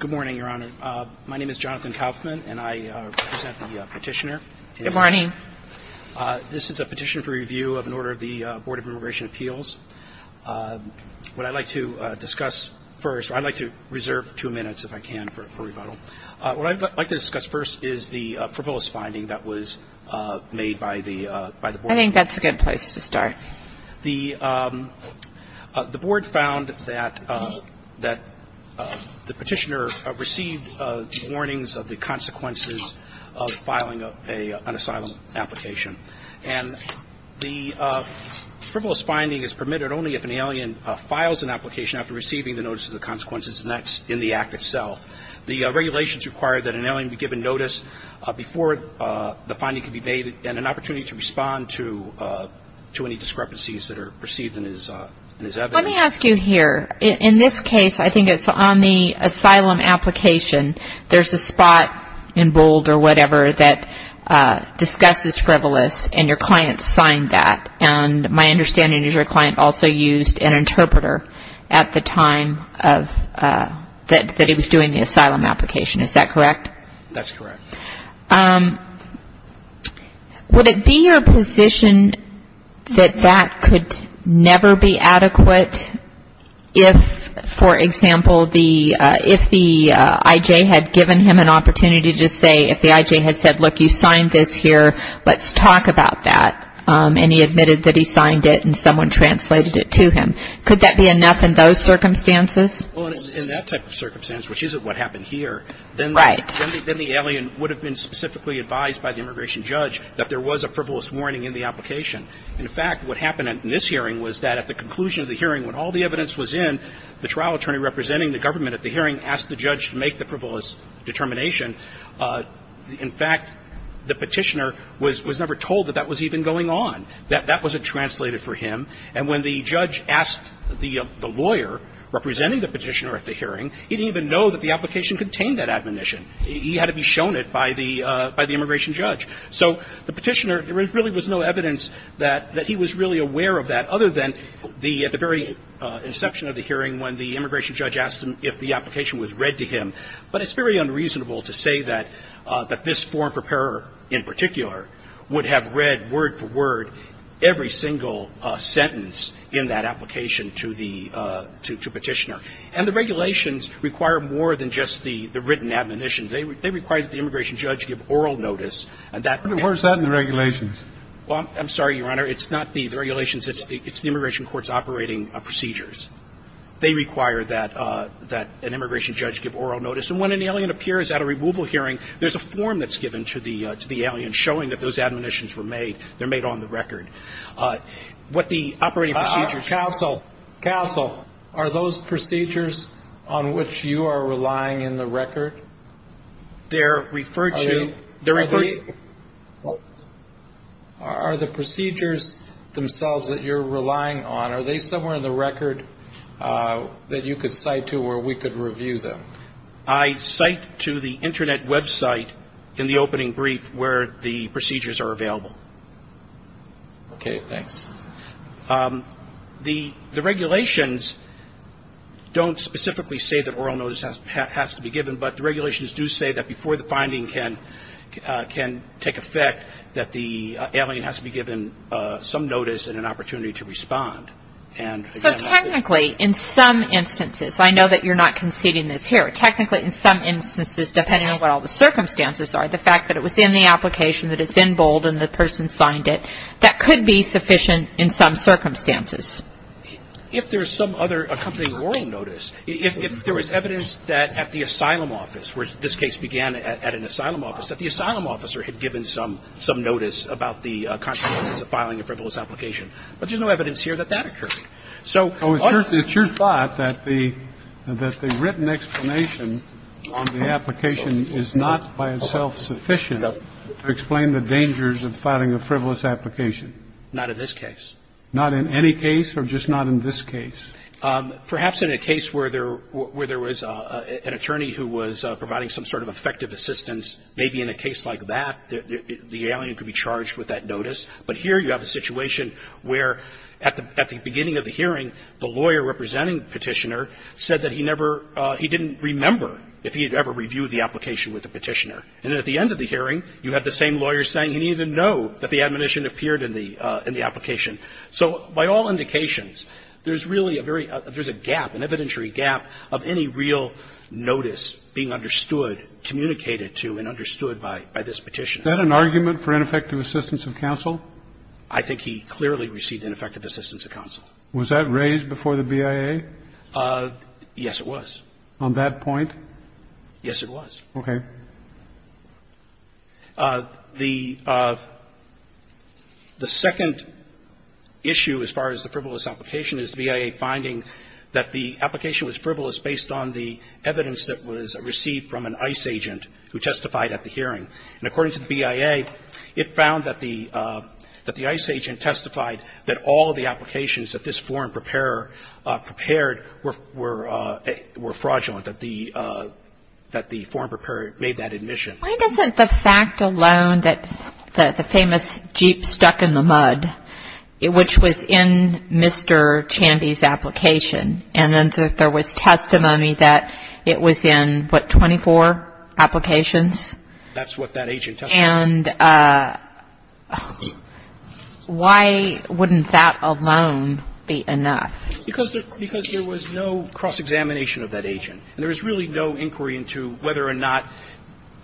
Good morning, Your Honor. My name is Jonathan Kaufman, and I represent the petitioner. Good morning. This is a petition for review of an order of the Board of Immigration Appeals. What I'd like to discuss first, or I'd like to reserve two minutes, if I can, for rebuttal. What I'd like to discuss first is the frivolous finding that was made by the board. I think that's a good place to start. The board found that the petitioner received warnings of the consequences of filing an asylum application. And the frivolous finding is permitted only if an alien files an application after receiving the notice of the consequences, and that's in the act itself. The regulations require that an alien be given notice before the finding can be made and an opportunity to respond to any discrepancies that are perceived in his evidence. Let me ask you here, in this case, I think it's on the asylum application, there's a spot in bold or whatever that discusses frivolous, and your client signed that. And my understanding is your client also used an interpreter at the time that he was doing the asylum application. Is that correct? That's correct. Would it be your position that that could never be adequate if, for example, if the I.J. had given him an opportunity to say, if the I.J. had said, look, you signed this here, let's talk about that. And he admitted that he signed it and someone translated it to him. Could that be enough in those circumstances? Well, in that type of circumstance, which is what happened here, then the alien would have been specifically advised by the immigration judge that there was a frivolous warning in the application. In fact, what happened in this hearing was that at the conclusion of the hearing, when all the evidence was in, the trial attorney representing the government at the hearing asked the judge to make the frivolous determination. In fact, the Petitioner was never told that that was even going on, that that wasn't translated for him. And when the judge asked the lawyer representing the Petitioner at the hearing, he didn't even know that the application contained that admonition. He had to be shown it by the immigration judge. So the Petitioner, there really was no evidence that he was really aware of that, other than the very inception of the hearing when the immigration judge asked him if the application was read to him. But it's very unreasonable to say that this foreign preparer in particular would have read word for word every single sentence in that application to the Petitioner. And the regulations require more than just the written admonition. They require that the immigration judge give oral notice. And that can't be done. And where is that in the regulations? Well, I'm sorry, Your Honor. It's not the regulations. It's the immigration court's operating procedures. They require that an immigration judge give oral notice. And when an alien appears at a removal hearing, there's a form that's given to the alien showing that those admonitions were made. They're made on the record. What the operating procedures. Counsel. Counsel. Are those procedures on which you are relying in the record? They're referred to. Are the procedures themselves that you're relying on, are they somewhere in the record that you could cite to where we could review them? I cite to the Internet website in the opening brief where the procedures are available. Okay. Thanks. The regulations don't specifically say that oral notice has to be given, but the regulations do say that before the finding can take effect, that the alien has to be given some notice and an opportunity to respond. So technically, in some instances, I know that you're not conceding this here. Technically, in some instances, depending on what all the circumstances are, the fact that it was in the application, that it's in bold and the person signed it, that could be sufficient in some circumstances. If there's some other accompanying oral notice, if there was evidence that at the asylum office, where this case began at an asylum office, that the asylum officer had given some notice about the consequences of filing a frivolous application. But there's no evidence here that that occurred. So. It's your thought that the written explanation on the application is not by itself sufficient to explain the dangers of filing a frivolous application. Not in this case. Not in any case or just not in this case? Perhaps in a case where there was an attorney who was providing some sort of effective assistance, maybe in a case like that, the alien could be charged with that notice. But here you have a situation where at the beginning of the hearing, the lawyer representing Petitioner said that he never, he didn't remember if he had ever reviewed the application with the Petitioner. And at the end of the hearing, you had the same lawyer saying he didn't even know that the admonition appeared in the application. So by all indications, there's really a very, there's a gap, an evidentiary gap of any real notice being understood, communicated to and understood by this Petitioner. Is that an argument for ineffective assistance of counsel? I think he clearly received ineffective assistance of counsel. Was that raised before the BIA? Yes, it was. On that point? Yes, it was. Okay. The second issue as far as the frivolous application is the BIA finding that the application was frivolous based on the evidence that was received from an ICE agent who testified at the hearing. And according to the BIA, it found that the ICE agent testified that all of the applications that this foreign preparer prepared were fraudulent, that the foreign preparer made that admission. Why doesn't the fact alone that the famous Jeep stuck in the mud, which was in Mr. Chandy's application, and then there was testimony that it was in, what, 24 applications? That's what that agent testified. And why wouldn't that alone be enough? Because there was no cross-examination of that agent. And there was really no inquiry into whether or not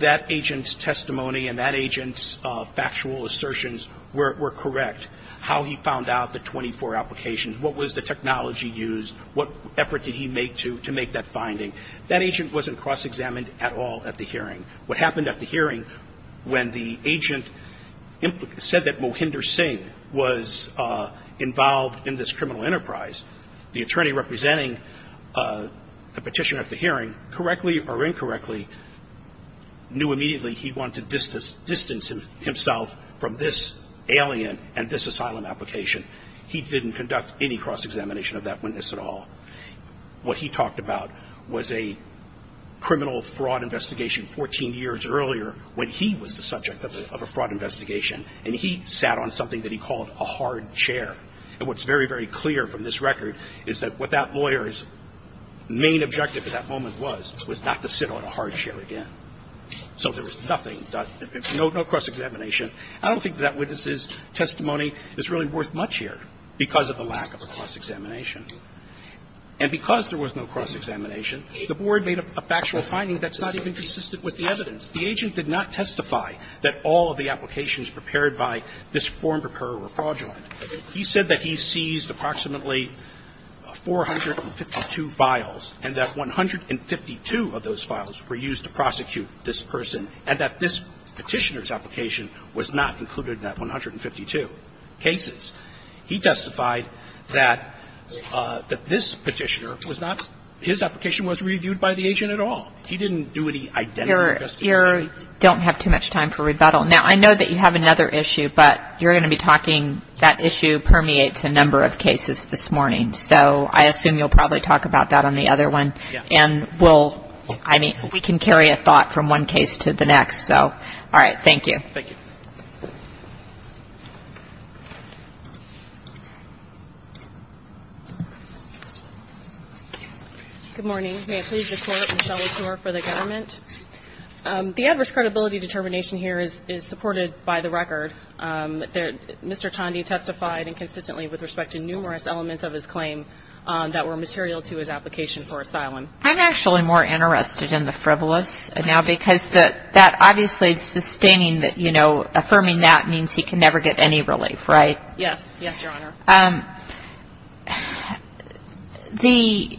that agent's testimony and that agent's factual assertions were correct, how he found out the 24 applications, what was the technology used, what effort did he make to make that finding. That agent wasn't cross-examined at all at the hearing. What happened at the hearing when the agent said that Mohinder Singh was involved in this criminal enterprise, the attorney representing the Petitioner at the hearing correctly or incorrectly knew immediately he wanted to distance himself from this alien and this asylum application. He didn't conduct any cross-examination of that witness at all. What he talked about was a criminal fraud investigation 14 years earlier when he was the subject of a fraud investigation, and he sat on something that he called a hard chair. And what's very, very clear from this record is that what that lawyer's main objective at that moment was was not to sit on a hard chair again. So there was nothing done, no cross-examination. I don't think that witness's testimony is really worth much here because of the cross-examination. And because there was no cross-examination, the Board made a factual finding that's not even consistent with the evidence. The agent did not testify that all of the applications prepared by this form preparer were fraudulent. He said that he seized approximately 452 files and that 152 of those files were used to prosecute this person and that this Petitioner's application was not included in that 152 cases. He testified that this Petitioner was not his application was reviewed by the agent at all. He didn't do any identical testimony. You don't have too much time for rebuttal. Now, I know that you have another issue, but you're going to be talking that issue permeates a number of cases this morning. So I assume you'll probably talk about that on the other one. Yeah. And we'll, I mean, we can carry a thought from one case to the next. So, all right. Thank you. Thank you. Good morning. May it please the Court, Michelle Latour for the government. The adverse credibility determination here is supported by the record. Mr. Tondi testified inconsistently with respect to numerous elements of his claim that were material to his application for asylum. I'm actually more interested in the frivolous now because that obviously is sustaining that, you know, affirming that means he can never get any relief, right? Yes. Yes, Your Honor. The,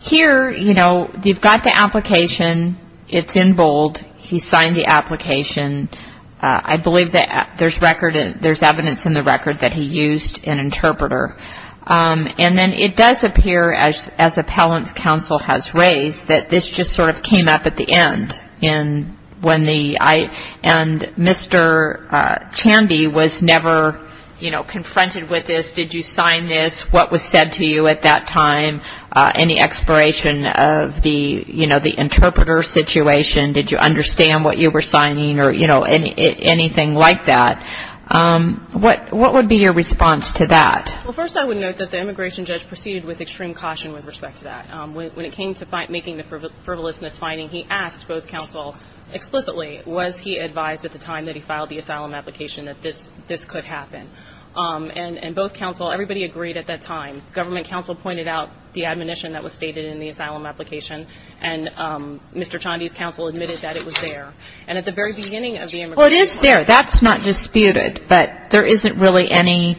here, you know, you've got the application. It's in bold. He signed the application. I believe that there's record, there's evidence in the record that he used an interpreter. And then it does appear as appellant's counsel has raised that this just sort of and Mr. Chandy was never, you know, confronted with this. Did you sign this? What was said to you at that time? Any exploration of the, you know, the interpreter situation? Did you understand what you were signing or, you know, anything like that? What would be your response to that? Well, first I would note that the immigration judge proceeded with extreme caution with respect to that. When it came to making the frivolousness finding, he asked both counsel explicitly, was he advised at the time that he filed the asylum application that this could happen? And both counsel, everybody agreed at that time. Government counsel pointed out the admonition that was stated in the asylum application. And Mr. Chandy's counsel admitted that it was there. And at the very beginning of the immigration trial. Well, it is there. That's not disputed. But there isn't really any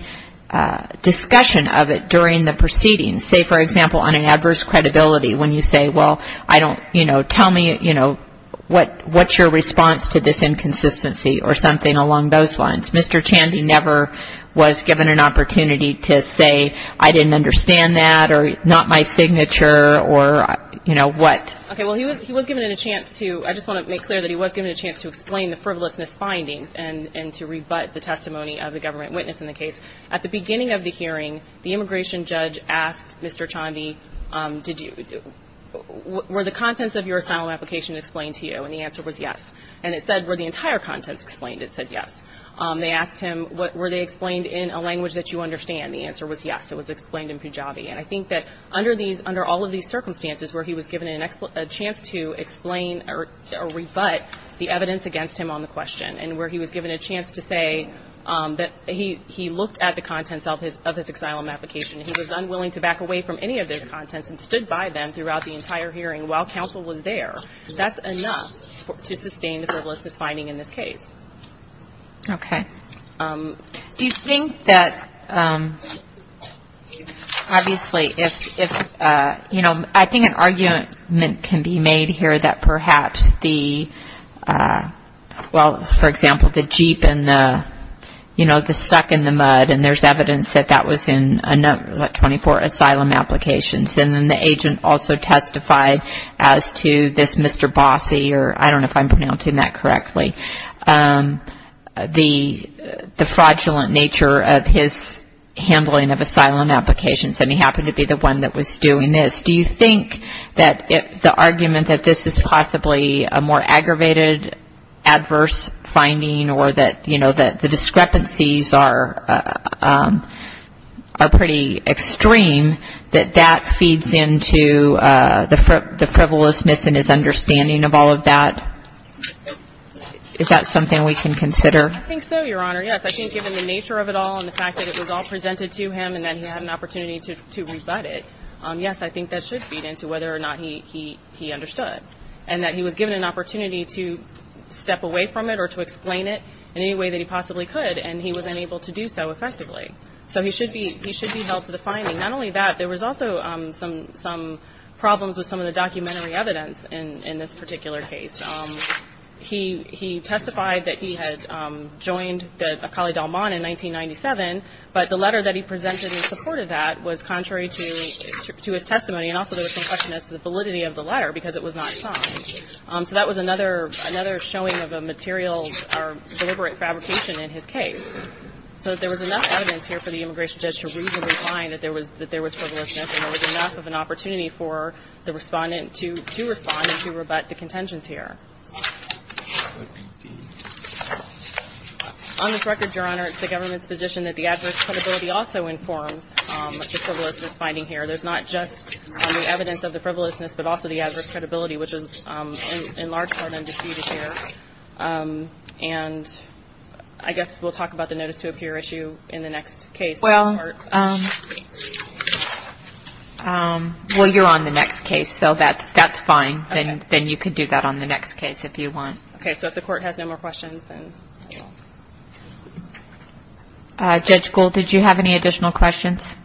discussion of it during the proceedings. Say, for example, on an adverse credibility when you say, well, I don't, you know, tell me, you know, what's your response to this inconsistency or something along those lines? Mr. Chandy never was given an opportunity to say I didn't understand that or not my signature or, you know, what. Okay. Well, he was given a chance to, I just want to make clear that he was given a chance to explain the frivolousness findings and to rebut the testimony of the government witness in the case. At the beginning of the hearing, the immigration judge asked Mr. Chandy, did you, were the contents of your asylum application explained to you? And the answer was yes. And it said, were the entire contents explained? It said yes. They asked him, were they explained in a language that you understand? The answer was yes. It was explained in Pujabi. And I think that under these, under all of these circumstances where he was given a chance to explain or rebut the evidence against him on the question and where he was given a chance to say that he looked at the contents of his asylum application and he was unwilling to back away from any of those contents and stood by them throughout the entire hearing while counsel was there, that's enough to sustain the frivolousness finding in this case. Okay. Do you think that obviously if, you know, I think an argument can be made here that perhaps the, well, for example, the Jeep and the, you know, the stuck in the dirt, what, 24 asylum applications, and then the agent also testified as to this Mr. Bossy, or I don't know if I'm pronouncing that correctly, the fraudulent nature of his handling of asylum applications, and he happened to be the one that was doing this. Do you think that the argument that this is possibly a more aggravated adverse finding or that, you know, the discrepancies are pretty extreme, that that feeds into the frivolousness in his understanding of all of that? Is that something we can consider? I think so, Your Honor. Yes. I think given the nature of it all and the fact that it was all presented to him and that he had an opportunity to rebut it, yes, I think that should feed into whether or not he understood. And that he was given an opportunity to step away from it or to explain it in any way that he possibly could, and he was unable to do so effectively. So he should be held to the finding. Not only that, there was also some problems with some of the documentary evidence in this particular case. He testified that he had joined the Acala y Dalman in 1997, but the letter that he presented in support of that was contrary to his testimony. And also there was some question as to the validity of the letter because it was not signed. So that was another showing of a material or deliberate fabrication in his case. So there was enough evidence here for the immigration judge to reasonably find that there was frivolousness and there was enough of an opportunity for the Respondent to respond and to rebut the contentions here. On this record, Your Honor, it's the government's position that the adverse credibility also informs the frivolousness finding here. There's not just the evidence of the frivolousness but also the adverse credibility, which is in large part undisputed here. And I guess we'll talk about the notice to appear issue in the next case. Well, you're on the next case, so that's fine. Then you can do that on the next case if you want. Okay. So if the Court has no more questions, then I will. Judge Gould, did you have any additional questions?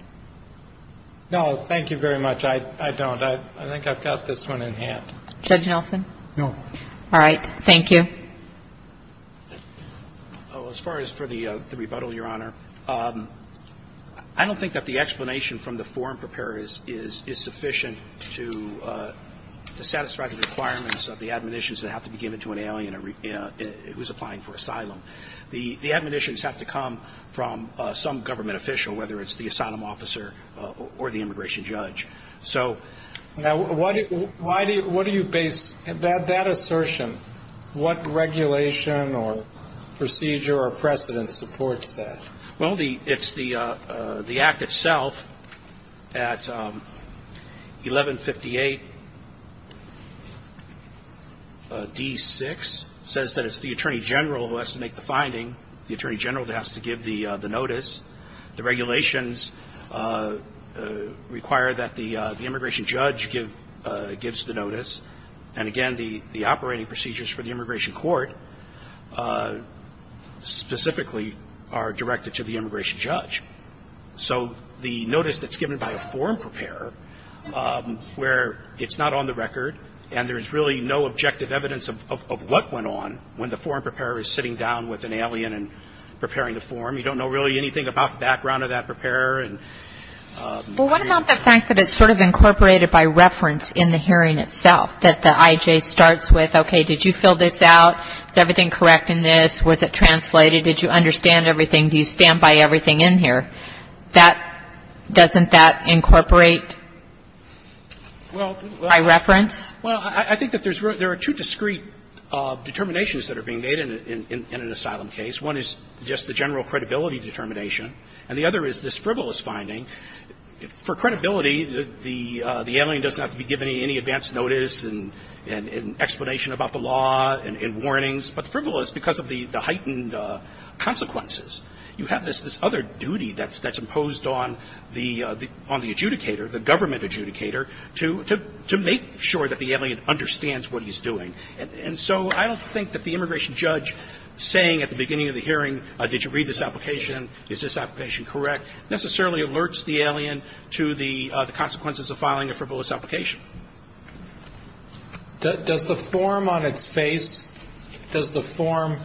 No. Thank you very much. I don't. I think I've got this one in hand. Judge Nelson? No. All right. Thank you. As far as for the rebuttal, Your Honor, I don't think that the explanation from the forum preparers is sufficient to satisfy the requirements of the admonitions that have to be given to an alien who is applying for asylum. The admonitions have to come from some government official, whether it's the asylum officer or the immigration judge. So why do you base that assertion? What regulation or procedure or precedent supports that? Well, it's the Act itself at 1158d6. It says that it's the attorney general who has to make the finding. The attorney general has to give the notice. The regulations require that the immigration judge gives the notice. And, again, the operating procedures for the immigration court specifically are directed to the immigration judge. So the notice that's given by a forum preparer, where it's not on the record and there's really no objective evidence of what went on when the forum preparer is sitting down with an alien and preparing the forum, you don't know really anything about the background of that preparer. Well, what about the fact that it's sort of incorporated by reference in the hearing itself, that the IJ starts with, okay, did you fill this out? Is everything correct in this? Was it translated? Did you understand everything? Do you stand by everything in here? That doesn't that incorporate by reference? Well, I think that there are two discrete determinations that are being made in an asylum case. One is just the general credibility determination. And the other is this frivolous finding. For credibility, the alien does not have to be given any advance notice and explanation about the law and warnings. But frivolous, because of the heightened consequences, you have this other duty that's imposed on the adjudicator, the government adjudicator, to make sure that the alien understands what he's doing. And so I don't think that the immigration judge saying at the beginning of the hearing, did you read this application? Is this application correct? Necessarily alerts the alien to the consequences of filing a frivolous application. Does the form on its face, does the form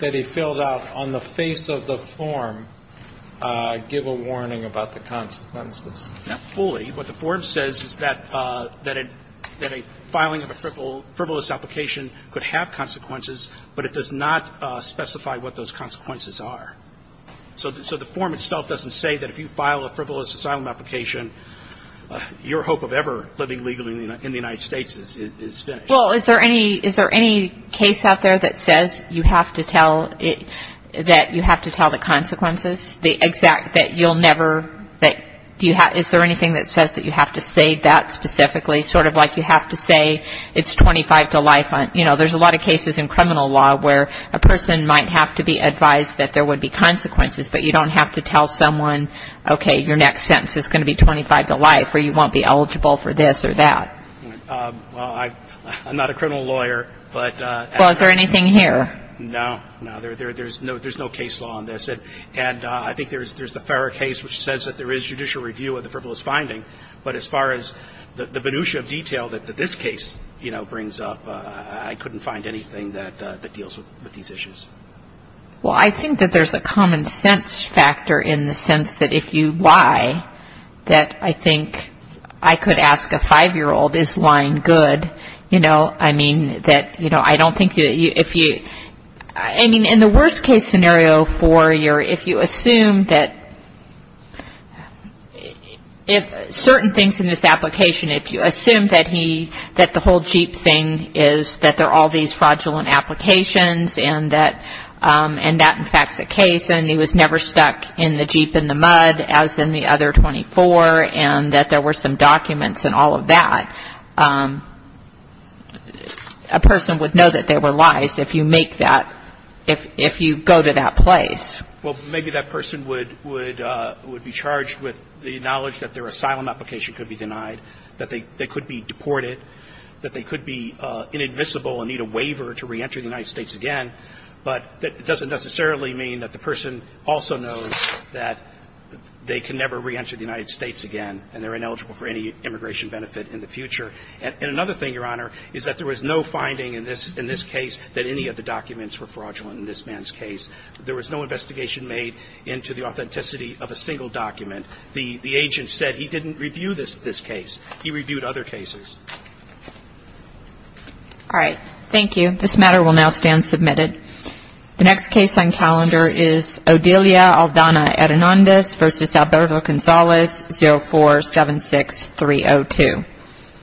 that he filled out on the face of the form give a warning about the consequences? Not fully. What the form says is that a filing of a frivolous application could have consequences, but it does not specify what those consequences are. So the form itself doesn't say that if you file a frivolous asylum application, your hope of ever living legally in the United States is finished. Well, is there any case out there that says you have to tell the consequences? The exact that you'll never, is there anything that says that you have to say that specifically? Sort of like you have to say it's 25 to life. You know, there's a lot of cases in criminal law where a person might have to be advised that there would be consequences, but you don't have to tell someone, okay, your next sentence is going to be 25 to life, or you won't be eligible for this or that. Well, I'm not a criminal lawyer. Well, is there anything here? No. No, there's no case law on this. And I think there's the Farrer case, which says that there is judicial review of the frivolous finding. But as far as the minutia of detail that this case, you know, brings up, I couldn't find anything that deals with these issues. Well, I think that there's a common sense factor in the sense that if you lie, that I think I could ask a 5-year-old, is lying good? You know, I mean, that, you know, I don't think that you, if you, I mean, in the worst case scenario for your, if you assume that if certain things in this application, if you assume that he, that the whole Jeep thing is that there are all these fraudulent applications and that in fact is the case and he was never stuck in the Jeep in the mud as in the other 24 and that there were some documents and all of that, a person would know that they were lies if you make that, if you go to that place. Well, maybe that person would be charged with the knowledge that their asylum application could be denied, that they could be deported, that they could be inadmissible and need a waiver to reenter the United States again, but that doesn't necessarily mean that the person also knows that they can never reenter the United States again and they're ineligible for any immigration benefit in the future. And another thing, Your Honor, is that there was no finding in this case that any of the documents were fraudulent in this man's case. There was no investigation made into the authenticity of a single document. The agent said he didn't review this case. He reviewed other cases. All right. Thank you. This matter will now stand submitted. The next case on calendar is Odilia Aldana Hernandez v. Alberto Gonzalez, 0476302.